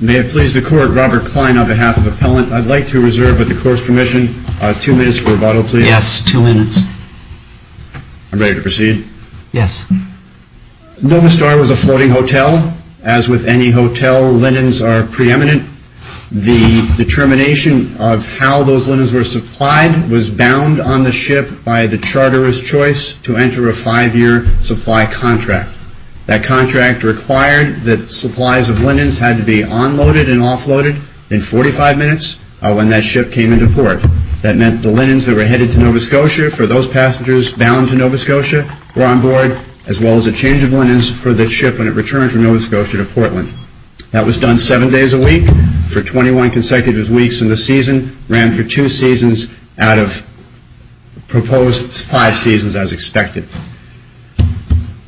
May it please the Court, Robert Klein on behalf of Appellant. I'd like to reserve with the Court's permission two minutes for rebuttal, please. Yes, two minutes. I'm ready to proceed. Yes. Nova Star was a floating hotel. As with any hotel, linens are preeminent. The determination of how those linens were supplied was bound on the ship by the charterer's choice to enter a five-year supply contract. That contract required that supplies of linens had to be unloaded and offloaded in 45 minutes when that ship came into port. That meant the linens that were headed to Nova Scotia for those passengers bound to Nova Scotia were on board, as well as a change of linens for the ship when it returned from Nova Scotia to Portland. That was done seven days a week for 21 consecutive weeks in the season, ran for two seasons out of proposed five seasons as expected.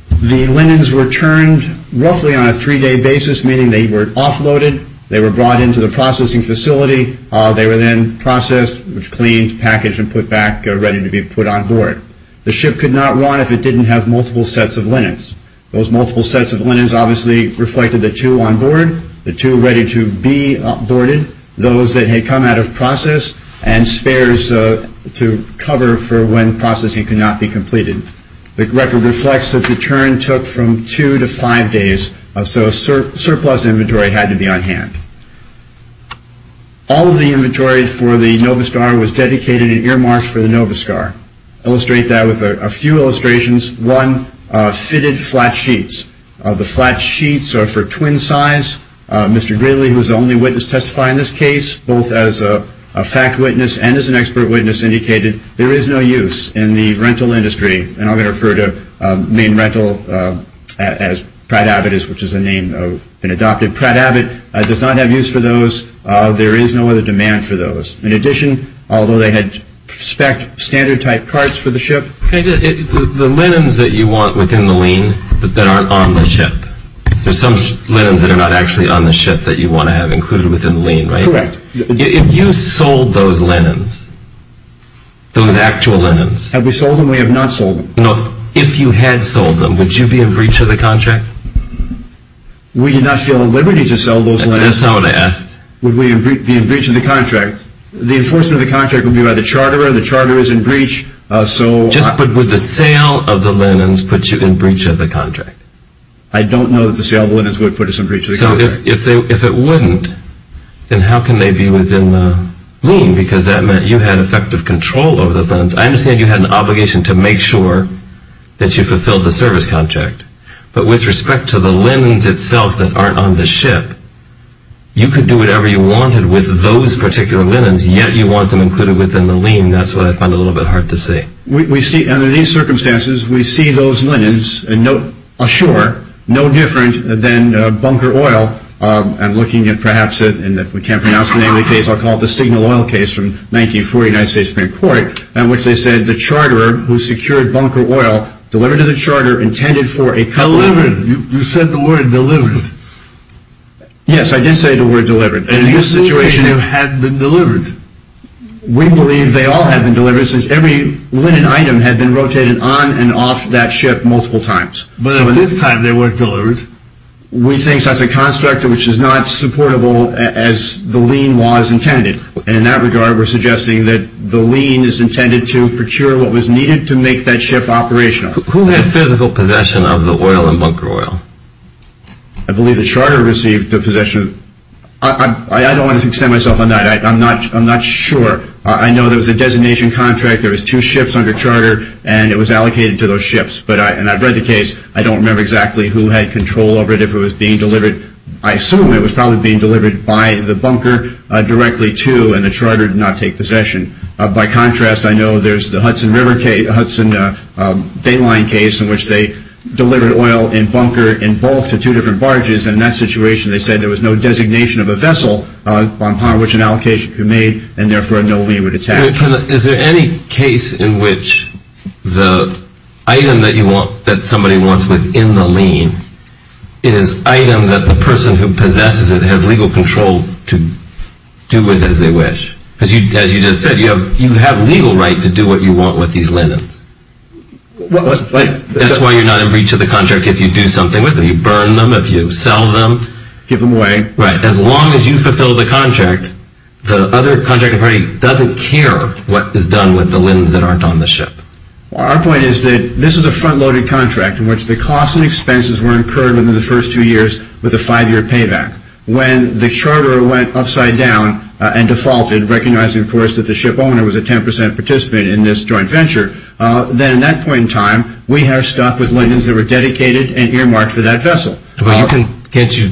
The linens were turned roughly on a three-day basis, meaning they were offloaded, they were brought into the processing facility, they were then processed, cleaned, packaged, and put back ready to be put on board. The ship could not run if it didn't have multiple sets of linens. Those multiple sets of linens obviously reflected the two on board, the two ready to be boarded, those that had come out of process, and spares to cover for when processing could not be completed. The record reflects that the turn took from two to five days, so a surplus inventory had to be on hand. All of the inventory for the Nova Star was dedicated in earmarks for the Nova Star. I'll illustrate that with a few illustrations. One, fitted flat sheets. The flat sheets are for twin size. Mr. Gridley, who is the only witness to testify in this case, both as a fact witness and as an expert witness, indicated there is no use in the rental industry, and I'm going to refer to main rental as Pratt-Abbott, which is the name that's been adopted. Pratt-Abbott does not have use for those. There is no other demand for those. In addition, although they had spec standard type parts for the ship. The linens that you want within the lien that aren't on the ship, there's some linens that are not actually on the ship that you want to have included within the lien, right? Correct. If you sold those linens, those actual linens. Have we sold them? We have not sold them. No. If you had sold them, would you be in breach of the contract? We did not feel a liberty to sell those linens. That's not what I asked. Would we be in breach of the contract? The enforcement of the contract would be by the charterer. The charterer is in breach. But would the sale of the linens put you in breach of the contract? I don't know that the sale of the linens would put us in breach of the contract. So if it wouldn't, then how can they be within the lien? Because that meant you had effective control over the funds. I understand you had an obligation to make sure that you fulfilled the service contract. But with respect to the linens itself that aren't on the ship, you could do whatever you wanted with those particular linens, yet you want them included within the lien. That's what I find a little bit hard to see. Under these circumstances, we see those linens, and no different than bunker oil. I'm looking at perhaps it, and if we can't pronounce the name of the case, I'll call it the Signal Oil case from 1944, United States Supreme Court, in which they said the charterer who secured bunker oil, delivered to the charterer, intended for a collusion. You said the word delivered. Yes, I did say the word delivered. In this situation, you had been delivered. We believe they all had been delivered, since every linen item had been rotated on and off that ship multiple times. But at this time, they weren't delivered. We think that's a construct which is not supportable as the lien law is intended. And in that regard, we're suggesting that the lien is intended to procure what was needed to make that ship operational. Who had physical possession of the oil in bunker oil? I believe the charterer received the possession. I don't want to extend myself on that. I'm not sure. I know there was a designation contract. There was two ships under charter, and it was allocated to those ships. And I've read the case. I don't remember exactly who had control over it, if it was being delivered. I assume it was probably being delivered by the bunker directly to, and the charterer did not take possession. By contrast, I know there's the Hudson River case, Hudson Dane Line case, in which they delivered oil in bunker in bulk to two different barges. In that situation, they said there was no designation of a vessel upon which an allocation could be made, and therefore no lien would attach. Is there any case in which the item that somebody wants within the lien is item that the person who possesses it has legal control to do with as they wish? As you just said, you have legal right to do what you want with these linens. That's why you're not in breach of the contract if you do something with them, if you burn them, if you sell them. Give them away. Right. As long as you fulfill the contract, the other contracting party doesn't care what is done with the linens that aren't on the ship. Our point is that this is a front-loaded contract in which the costs and expenses were incurred within the first two years with a five-year payback. When the charter went upside down and defaulted, recognizing, of course, that the ship owner was a 10% participant in this joint venture, then at that point in time, we have stocked with linens that were dedicated and earmarked for that vessel. Can't you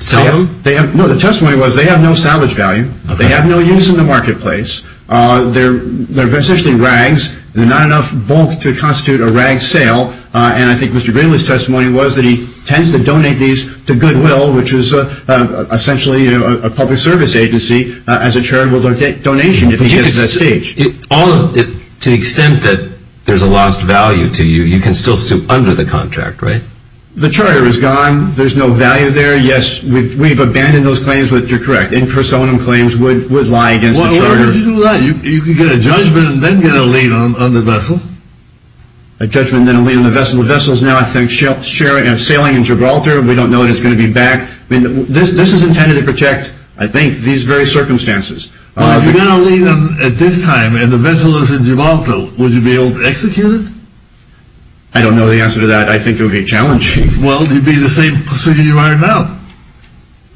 sell them? No. The testimony was they have no salvage value. They have no use in the marketplace. They're essentially rags. They're not enough bulk to constitute a rag sale. And I think Mr. Greenlee's testimony was that he tends to donate these to Goodwill, which is essentially a public service agency, as a charitable donation if he gets to that stage. To the extent that there's a lost value to you, you can still sue under the contract, right? The charter is gone. There's no value there. Yes, we've abandoned those claims, but you're correct. In personam claims would lie against the charter. Why would you do that? You can get a judgment and then get a lien on the vessel. A judgment and then a lien on the vessel. The vessel is now, I think, sailing in Gibraltar. We don't know that it's going to be back. This is intended to protect, I think, these very circumstances. If you got a lien at this time and the vessel is in Gibraltar, would you be able to execute it? I don't know the answer to that. I think it would be challenging. Well, it would be the same procedure you are in now.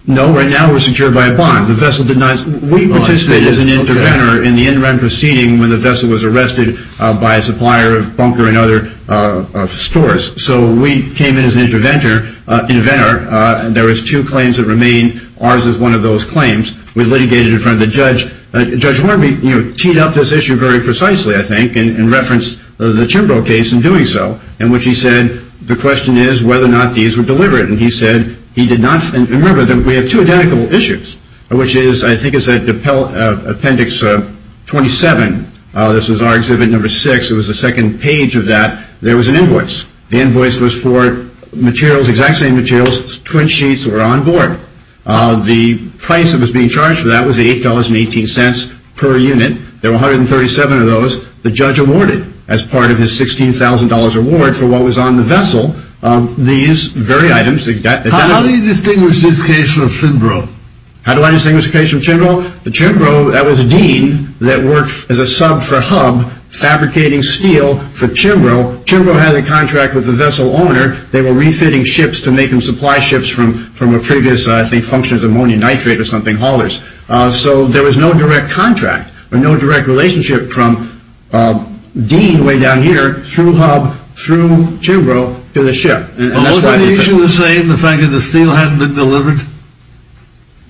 No, right now we're secured by a bond. The vessel did not. We participated as an interventor in the in-run proceeding when the vessel was arrested by a supplier of bunker and other stores. So we came in as an interventor. There was two claims that remained. Ours is one of those claims. We litigated in front of the judge. Judge Warby teed up this issue very precisely, I think, and referenced the Chimbrow case in doing so, in which he said, the question is whether or not these were deliberate. And he said he did not. Remember, we have two identical issues, which is, I think, is Appendix 27. This is our Exhibit No. 6. It was the second page of that. There was an invoice. The invoice was for materials, exact same materials. Twin sheets were on board. The price that was being charged for that was $8.18 per unit. There were 137 of those. The judge awarded, as part of his $16,000 reward for what was on the vessel, these very items. How do you distinguish this case from Chimbrow? How do I distinguish the case from Chimbrow? Chimbrow, that was Dean that worked as a sub for Hub, fabricating steel for Chimbrow. Chimbrow had a contract with the vessel owner. They were refitting ships to make them supply ships from a previous, I think, function as ammonia nitrate or something haulers. So there was no direct contract or no direct relationship from Dean, way down here, through Hub, through Chimbrow, to the ship. Was the issue the same, the fact that the steel hadn't been delivered?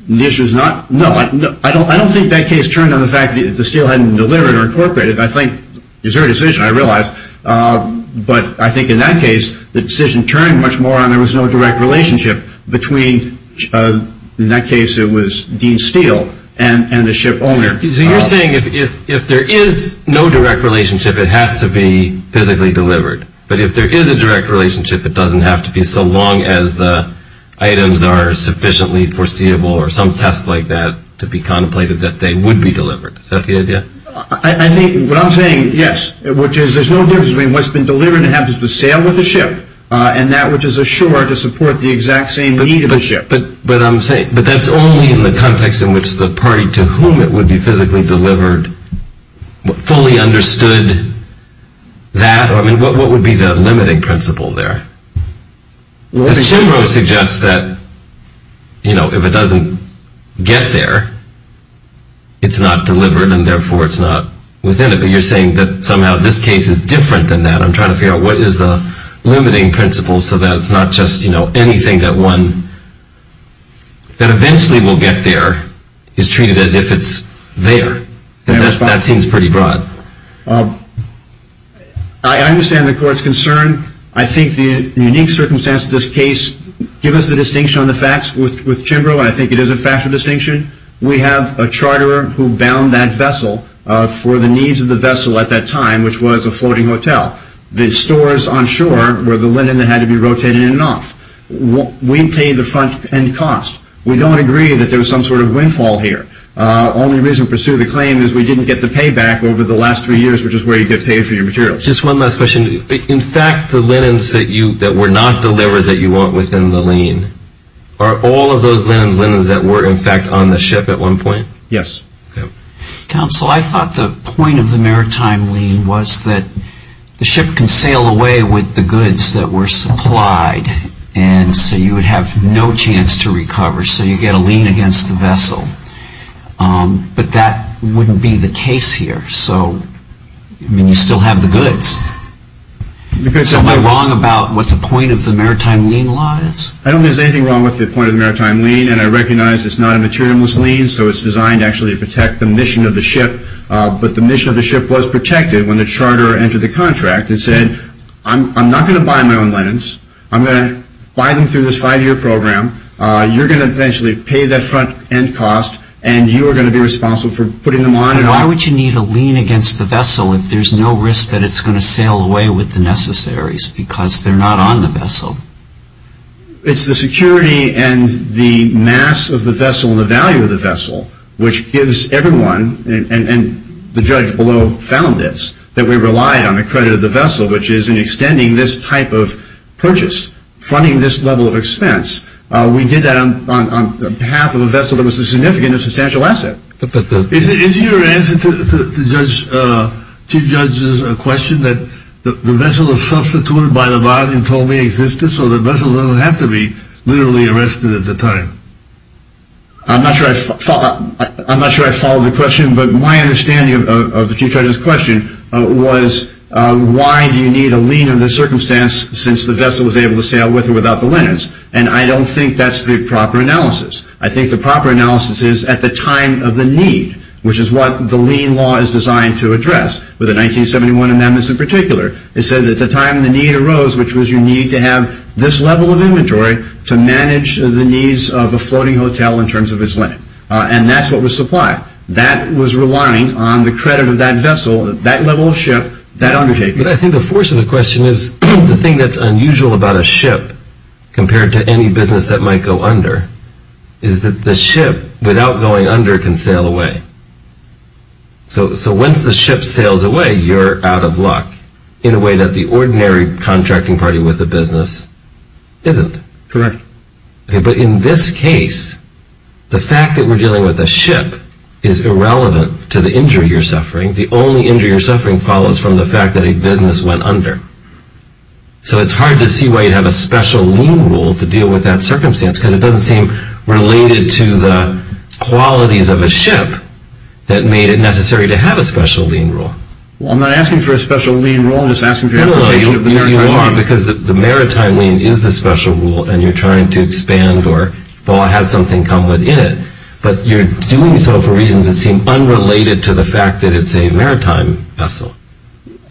The issue is not. No, I don't think that case turned on the fact that the steel hadn't been delivered or incorporated, I think. It was their decision, I realize. But I think in that case, the decision turned much more on there was no direct relationship between, in that case, it was Dean Steel and the ship owner. So you're saying if there is no direct relationship, it has to be physically delivered. But if there is a direct relationship, it doesn't have to be so long as the items are sufficiently foreseeable or some test like that to be contemplated that they would be delivered. Is that the idea? I think what I'm saying, yes, which is there's no difference between what's been delivered and what happens to sail with the ship and that which is ashore to support the exact same need of the ship. But that's only in the context in which the party to whom it would be physically delivered fully understood that. I mean, what would be the limiting principle there? Jimbo suggests that, you know, if it doesn't get there, it's not delivered and therefore it's not within it. But you're saying that somehow this case is different than that. I'm trying to figure out what is the limiting principle so that it's not just, you know, anything that one that eventually will get there is treated as if it's there. That seems pretty broad. I understand the court's concern. I think the unique circumstances of this case give us the distinction on the facts with Jimbo, and I think it is a factual distinction. We have a charter who bound that vessel for the needs of the vessel at that time, which was a floating hotel. The stores on shore were the linen that had to be rotated in and off. We pay the front end cost. We don't agree that there was some sort of windfall here. Only reason to pursue the claim is we didn't get the payback over the last three years, which is where you get paid for your materials. Just one last question. In fact, the linens that were not delivered that you want within the lean, are all of those linens linens that were, in fact, on the ship at one point? Yes. Counsel, I thought the point of the maritime lean was that the ship can sail away with the goods that were supplied, and so you would have no chance to recover, so you get a lean against the vessel. But that wouldn't be the case here. So, I mean, you still have the goods. So am I wrong about what the point of the maritime lean lies? I don't think there's anything wrong with the point of the maritime lean, and I recognize it's not a material-less lean, so it's designed actually to protect the mission of the ship. But the mission of the ship was protected when the charter entered the contract. It said, I'm not going to buy my own linens. I'm going to buy them through this five-year program. You're going to eventually pay that front-end cost, and you are going to be responsible for putting them on and off. Why would you need a lean against the vessel if there's no risk that it's going to sail away with the necessaries, because they're not on the vessel? It's the security and the mass of the vessel and the value of the vessel, which gives everyone, and the judge below found this, that we relied on the credit of the vessel, which is in extending this type of purchase, funding this level of expense. We did that on behalf of a vessel that was a significant and substantial asset. Is your answer to Chief Judge's question that the vessel is substituted by the body and totally existent, so the vessel doesn't have to be literally arrested at the time? I'm not sure I followed the question, but my understanding of the Chief Judge's question was, why do you need a lean in this circumstance since the vessel is able to sail with or without the linens? And I don't think that's the proper analysis. I think the proper analysis is at the time of the need, which is what the lean law is designed to address with the 1971 amendments in particular. It says at the time the need arose, which was you need to have this level of inventory to manage the needs of a floating hotel in terms of its linen. And that's what was supplied. That was relying on the credit of that vessel, that level of ship, that undertaking. But I think the force of the question is the thing that's unusual about a ship compared to any business that might go under is that the ship, without going under, can sail away. So once the ship sails away, you're out of luck in a way that the ordinary contracting party with a business isn't. Correct. But in this case, the fact that we're dealing with a ship is irrelevant to the injury you're suffering. The only injury you're suffering follows from the fact that a business went under. So it's hard to see why you'd have a special lean rule to deal with that circumstance because it doesn't seem related to the qualities of a ship that made it necessary to have a special lean rule. Well, I'm not asking for a special lean rule. I'm just asking for your appreciation of the maritime lean. No, you are because the maritime lean is the special rule, and you're trying to expand or have something come within it. But you're doing so for reasons that seem unrelated to the fact that it's a maritime vessel.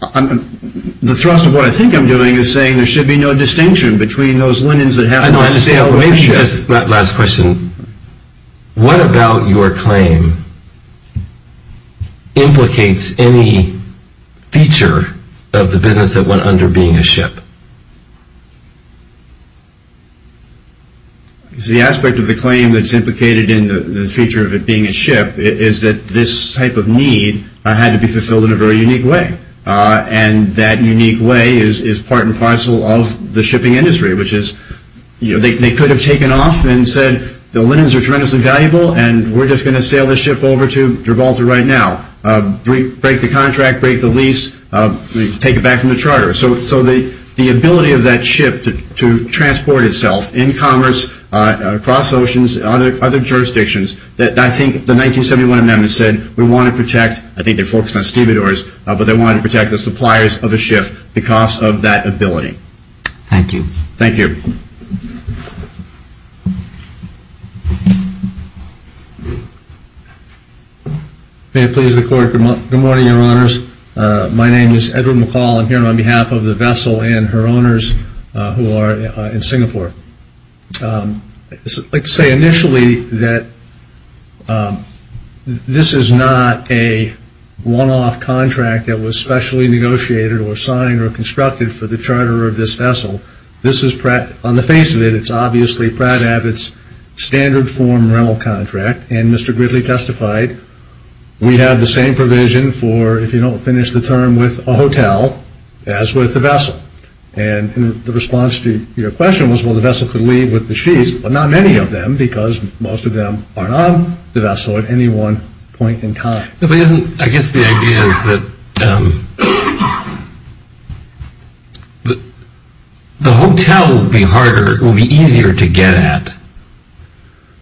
The thrust of what I think I'm doing is saying there should be no distinction between those linens Last question. What about your claim implicates any feature of the business that went under being a ship? The aspect of the claim that's implicated in the feature of it being a ship is that this type of need had to be fulfilled in a very unique way. And that unique way is part and parcel of the shipping industry, which is they could have taken off and said the linens are tremendously valuable and we're just going to sail this ship over to Gibraltar right now, break the contract, break the lease, take it back from the charter. So the ability of that ship to transport itself in commerce, across oceans, other jurisdictions, I think the 1971 amendment said we want to protect, I think they're focused on stevedores, but they wanted to protect the suppliers of a ship because of that ability. Thank you. Thank you. May it please the Court. Good morning, Your Honors. My name is Edward McCall. I'm here on behalf of the vessel and her owners who are in Singapore. I'd like to say initially that this is not a one-off contract that was specially negotiated or signed or constructed for the charter of this vessel. This is, on the face of it, it's obviously Pratt Abbott's standard form rental contract, and Mr. Gridley testified we have the same provision for, if you don't finish the term, with a hotel as with the vessel. And the response to your question was, well, the vessel could leave with the sheaths, but not many of them because most of them aren't on the vessel at any one point in time. I guess the idea is that the hotel will be easier to get at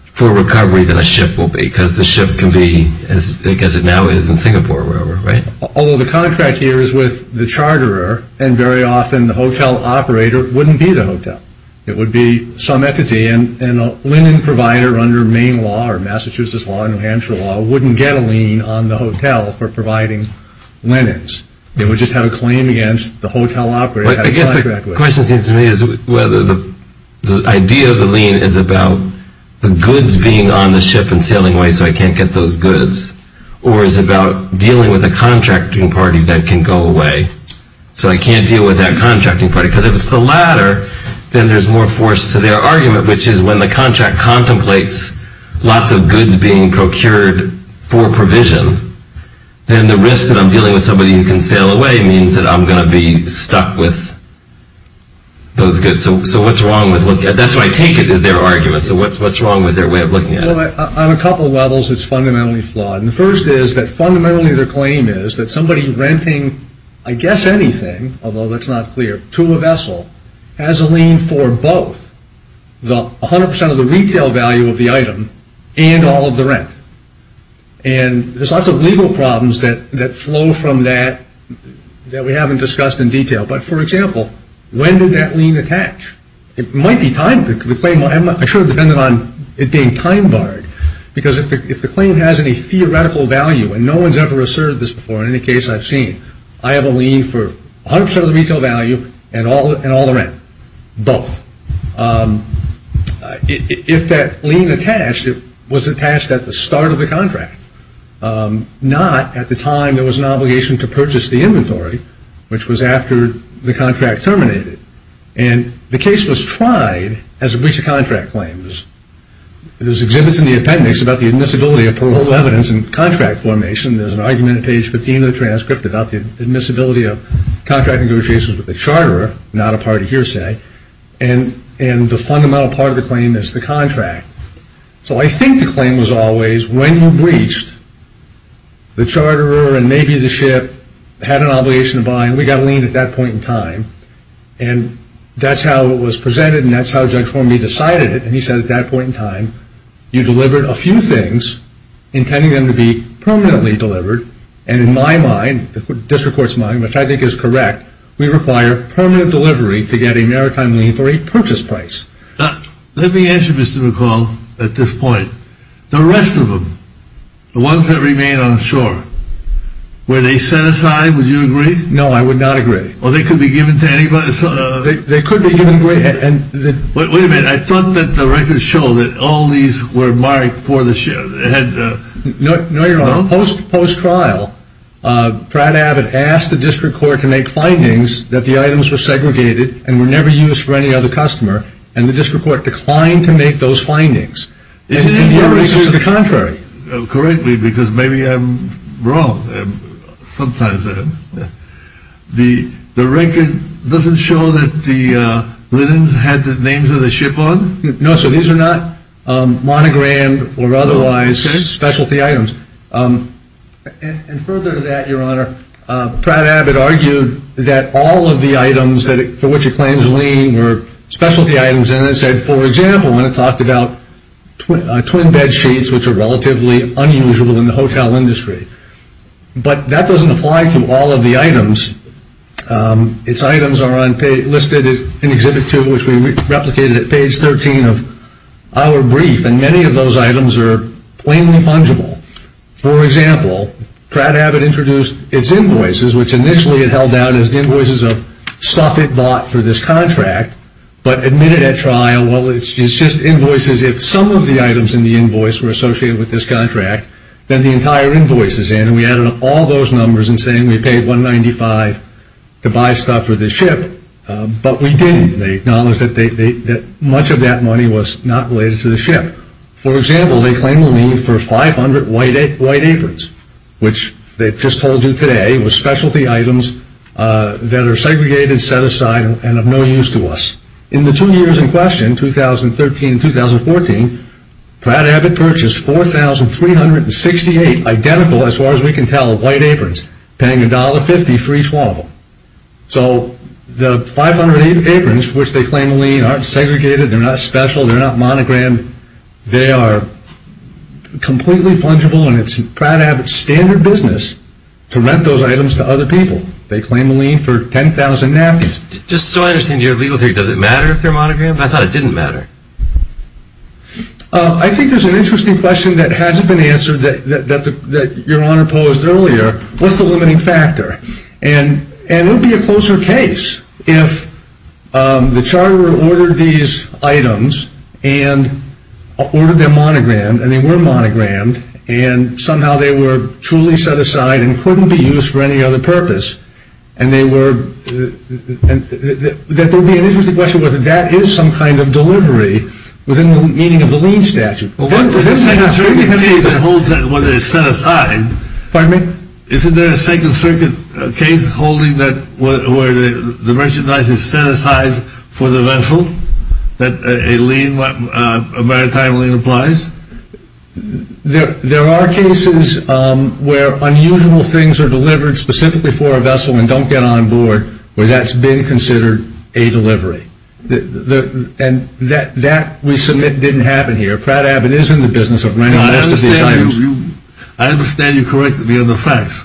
for recovery than a ship will be because the ship can be as big as it now is in Singapore or wherever, right? Although the contract here is with the charterer, and very often the hotel operator wouldn't be the hotel. It would be some entity, and a linen provider under Maine law or Massachusetts law or New Hampshire law wouldn't get a lien on the hotel for providing linens. They would just have a claim against the hotel operator. I guess the question seems to me is whether the idea of the lien is about the goods being on the ship and sailing away so I can't get those goods, or is it about dealing with a contracting party that can go away so I can't deal with that contracting party? Because if it's the latter, then there's more force to their argument, which is when the contract contemplates lots of goods being procured for provision, then the risk that I'm dealing with somebody who can sail away means that I'm going to be stuck with those goods. So what's wrong with looking at that? That's where I take it is their argument. So what's wrong with their way of looking at it? Well, on a couple of levels, it's fundamentally flawed. And the first is that fundamentally their claim is that somebody renting, I guess anything, although that's not clear, to a vessel has a lien for both 100% of the retail value of the item and all of the rent. And there's lots of legal problems that flow from that that we haven't discussed in detail. But, for example, when did that lien attach? It might be timed. I'm sure it depended on it being time-barred. Because if the claim has any theoretical value, and no one's ever asserted this before in any case I've seen, I have a lien for 100% of the retail value and all the rent, both. If that lien attached, it was attached at the start of the contract, not at the time there was an obligation to purchase the inventory, which was after the contract terminated. And the case was tried as a breach of contract claim. There's exhibits in the appendix about the admissibility of paroled evidence in contract formation. There's an argument at page 15 of the transcript about the admissibility of contract negotiations with the charterer, not a party hearsay. And the fundamental part of the claim is the contract. So I think the claim was always, when you're breached, the charterer and maybe the ship had an obligation to buy, and we got a lien at that point in time. And that's how it was presented, and that's how Judge Hornby decided it. And he said at that point in time, you delivered a few things, intending them to be permanently delivered. And in my mind, the district court's mind, which I think is correct, we require permanent delivery to get a maritime lien for a purchase price. Let me answer, Mr. McCall, at this point. The rest of them, the ones that remain on shore, were they set aside, would you agree? No, I would not agree. Well, they could be given to anybody. They could be given away. Wait a minute. I thought that the records show that all these were marked for the ship. No, you're wrong. Post-trial, Brad Abbott asked the district court to make findings that the items were segregated and were never used for any other customer, and the district court declined to make those findings. Isn't that the contrary? Correctly, because maybe I'm wrong. Sometimes I am. The record doesn't show that the linens had the names of the ship on? No, sir. These are not monogrammed or otherwise specialty items. And further to that, Your Honor, Brad Abbott argued that all of the items for which it claims lien were specialty items, and then said, for example, when it talked about twin bed sheets, which are relatively unusual in the hotel industry. But that doesn't apply to all of the items. Its items are listed in Exhibit 2, which we replicated at page 13 of our brief, and many of those items are plainly fungible. For example, Brad Abbott introduced its invoices, which initially it held down as the invoices of stuff it bought for this contract, but admitted at trial, well, it's just invoices. If some of the items in the invoice were associated with this contract, then the entire invoice is in, and we added up all those numbers and saying we paid $195 to buy stuff for this ship, but we didn't. They acknowledged that much of that money was not related to the ship. For example, they claim a lien for 500 white aprons, which they just told you today were specialty items that are segregated, set aside, and of no use to us. In the two years in question, 2013 and 2014, Brad Abbott purchased 4,368 identical, as far as we can tell, white aprons, paying $1.50 for each one of them. So the 500 aprons, which they claim a lien, aren't segregated, they're not special, they're not monogrammed, and they are completely fungible, and it's Brad Abbott's standard business to rent those items to other people. They claim a lien for 10,000 napkins. Just so I understand your legal theory, does it matter if they're monogrammed? I thought it didn't matter. I think there's an interesting question that hasn't been answered that Your Honor posed earlier. What's the limiting factor? And it would be a closer case if the charter ordered these items and ordered them monogrammed, and they were monogrammed, and somehow they were truly set aside and couldn't be used for any other purpose, and there would be an interesting question whether that is some kind of delivery within the meaning of the lien statute. Isn't there a Second Circuit case where the merchandise is set aside for the vessel that a maritime lien applies? There are cases where unusual things are delivered specifically for a vessel and don't get on board, where that's been considered a delivery. And that, we submit, didn't happen here. Brad Abbott is in the business of renting most of these items. I understand you corrected me on the facts,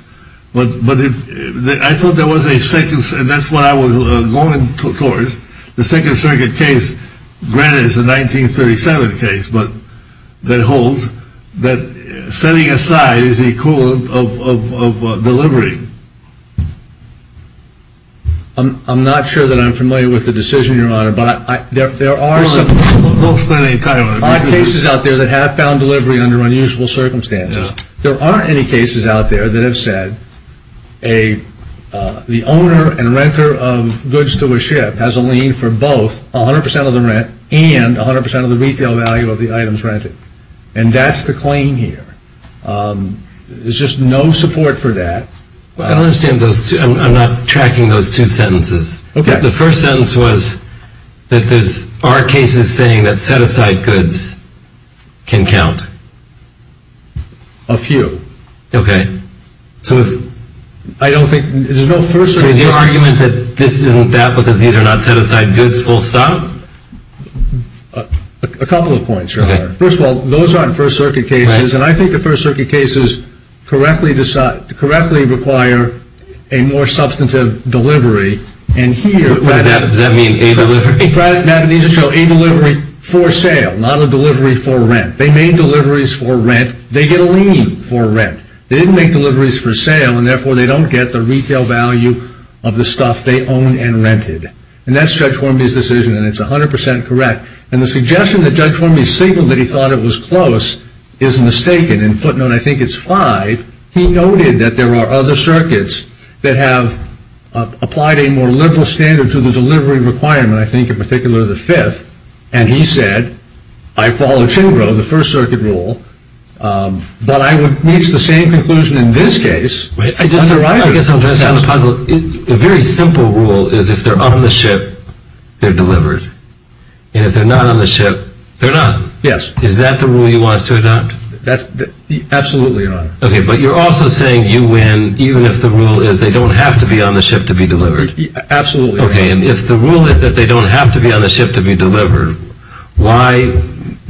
but I thought there was a second, and that's what I was going towards. The Second Circuit case, granted it's a 1937 case, but that holds, that setting aside is the equivalent of delivery. I'm not sure that I'm familiar with the decision, Your Honor, but there are some cases out there that have found delivery under unusual circumstances. There aren't any cases out there that have said the owner and renter of goods to a ship has a lien for both 100 percent of the rent and 100 percent of the retail value of the items rented, and that's the claim here. There's just no support for that. I don't understand those two. I'm not tracking those two sentences. The first sentence was that there are cases saying that set-aside goods can count. A few. Okay. So is your argument that this isn't that because these are not set-aside goods full stop? A couple of points, Your Honor. First of all, those aren't First Circuit cases, and I think the First Circuit cases correctly require a more substantive delivery. Does that mean a delivery? It needs to show a delivery for sale, not a delivery for rent. They made deliveries for rent. They get a lien for rent. They didn't make deliveries for sale, and therefore they don't get the retail value of the stuff they own and rented, and that's Judge Warmbier's decision, and it's 100 percent correct. And the suggestion that Judge Warmbier signaled that he thought it was close is mistaken, and footnote, I think it's five. He noted that there are other circuits that have applied a more liberal standard to the delivery requirement, I think in particular the fifth, and he said, I follow Chingro, the First Circuit rule, but I would reach the same conclusion in this case. I guess I'm trying to sound puzzled. So a very simple rule is if they're on the ship, they're delivered, and if they're not on the ship, they're not. Yes. Is that the rule you want us to adopt? Absolutely, Your Honor. Okay, but you're also saying you win even if the rule is they don't have to be on the ship to be delivered. Absolutely, Your Honor. Okay, and if the rule is that they don't have to be on the ship to be delivered, why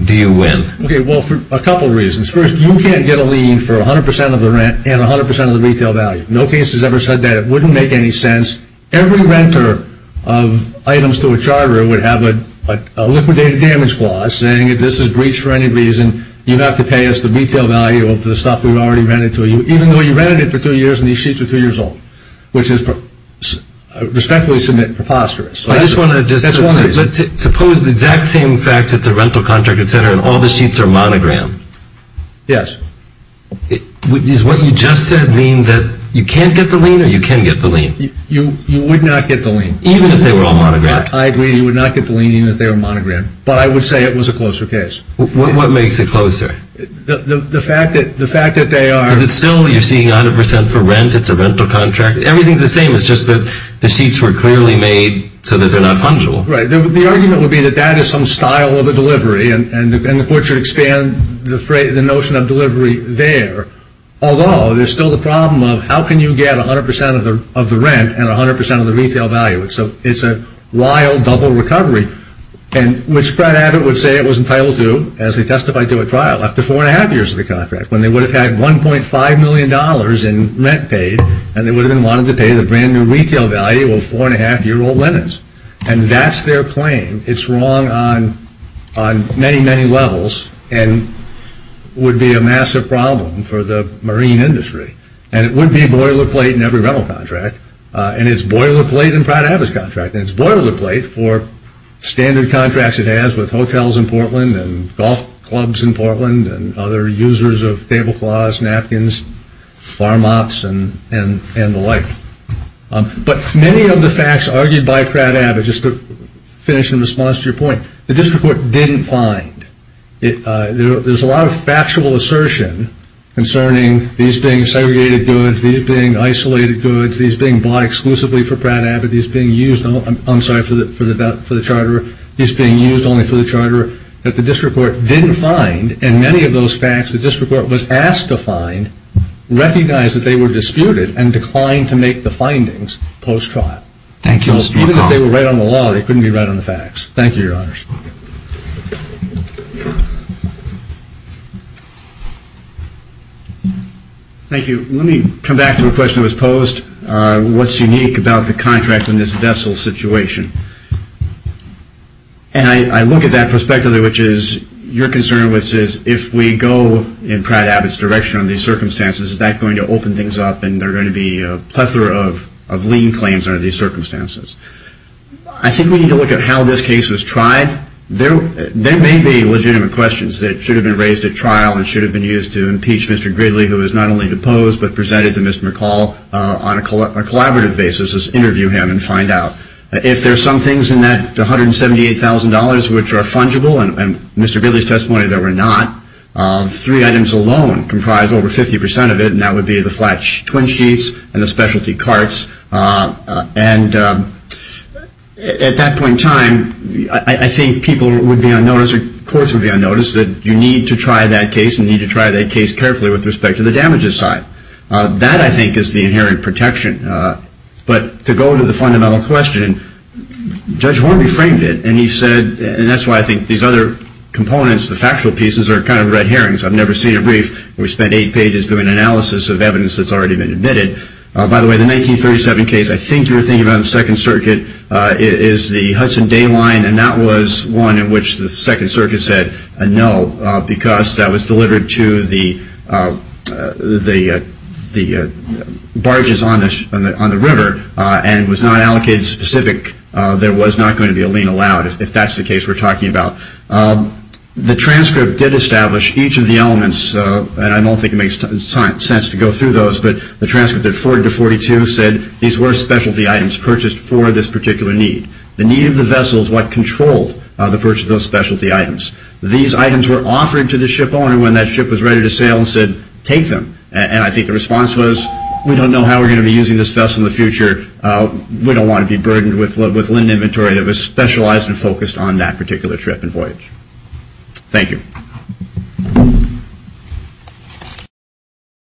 do you win? Okay, well, for a couple reasons. First, you can't get a lien for 100 percent of the rent and 100 percent of the retail value. No case has ever said that. It wouldn't make any sense. Every renter of items to a charter would have a liquidated damage clause saying if this is breached for any reason, you have to pay us the retail value of the stuff we've already rented to you, even though you rented it for two years and these sheets are two years old, which is respectfully submit preposterous. I just want to just say, suppose the exact same fact that the rental contract gets entered and all the sheets are monogrammed. Yes. Does what you just said mean that you can't get the lien or you can get the lien? You would not get the lien. Even if they were all monogrammed? I agree. You would not get the lien even if they were monogrammed, but I would say it was a closer case. What makes it closer? The fact that they are. Is it still you're seeking 100 percent for rent? It's a rental contract. Everything's the same. It's just that the sheets were clearly made so that they're not fungible. Right. The argument would be that that is some style of a delivery, and the court should expand the notion of delivery there, although there's still the problem of how can you get 100 percent of the rent and 100 percent of the retail value. So it's a wild double recovery, which Fred Abbott would say it was entitled to as he testified to at trial after four and a half years of the contract, when they would have had $1.5 million in rent paid and they would have been wanting to pay the brand new retail value of four and a half year old linens. And that's their claim. It's wrong on many, many levels and would be a massive problem for the marine industry. And it would be boilerplate in every rental contract. And it's boilerplate in Fred Abbott's contract. And it's boilerplate for standard contracts it has with hotels in Portland and golf clubs in Portland and other users of tablecloths, napkins, farm ops, and the like. But many of the facts argued by Fred Abbott, just to finish in response to your point, the district court didn't find. There's a lot of factual assertion concerning these being segregated goods, these being isolated goods, these being bought exclusively for Fred Abbott, these being used only for the charter, these being used only for the charter, that the district court didn't find. And many of those facts the district court was asked to find recognized that they were disputed and declined to make the findings post-trial. Even if they were right on the law, they couldn't be right on the facts. Thank you, Your Honors. Thank you. Let me come back to a question that was posed. What's unique about the contracts in this vessel situation? And I look at that prospectively, which is your concern, which is if we go in Fred Abbott's direction on these circumstances, is that going to open things up and there are going to be a plethora of lien claims under these circumstances? I think we need to look at how this case was tried. There may be legitimate questions that should have been raised at trial and should have been used to impeach Mr. Gridley, who was not only deposed but presented to Mr. McCall on a collaborative basis to interview him and find out. If there are some things in that $178,000 which are fungible, and Mr. Gridley's testimony that were not, three items alone comprise over 50% of it, and that would be the flat twin sheets and the specialty carts. And at that point in time, I think people would be unnoticed or courts would be unnoticed that you need to try that case and you need to try that case carefully with respect to the damages side. That, I think, is the inherent protection. But to go to the fundamental question, Judge Horn reframed it, and he said, and that's why I think these other components, the factual pieces, are kind of red herrings. I've never seen it brief. We spent eight pages doing analysis of evidence that's already been admitted. By the way, the 1937 case, I think you were thinking about in the Second Circuit, is the Hudson Day line, and that was one in which the Second Circuit said no because that was delivered to the barges on the river and was not allocated specific. There was not going to be a lien allowed, if that's the case we're talking about. The transcript did establish each of the elements, and I don't think it makes sense to go through those, but the transcript at 40-42 said these were specialty items purchased for this particular need. The need of the vessel is what controlled the purchase of those specialty items. These items were offered to the shipowner when that ship was ready to sail and said, take them. I think the response was, we don't know how we're going to be using this vessel in the future. We don't want to be burdened with linen inventory that was specialized and focused on that particular trip and voyage. Thank you.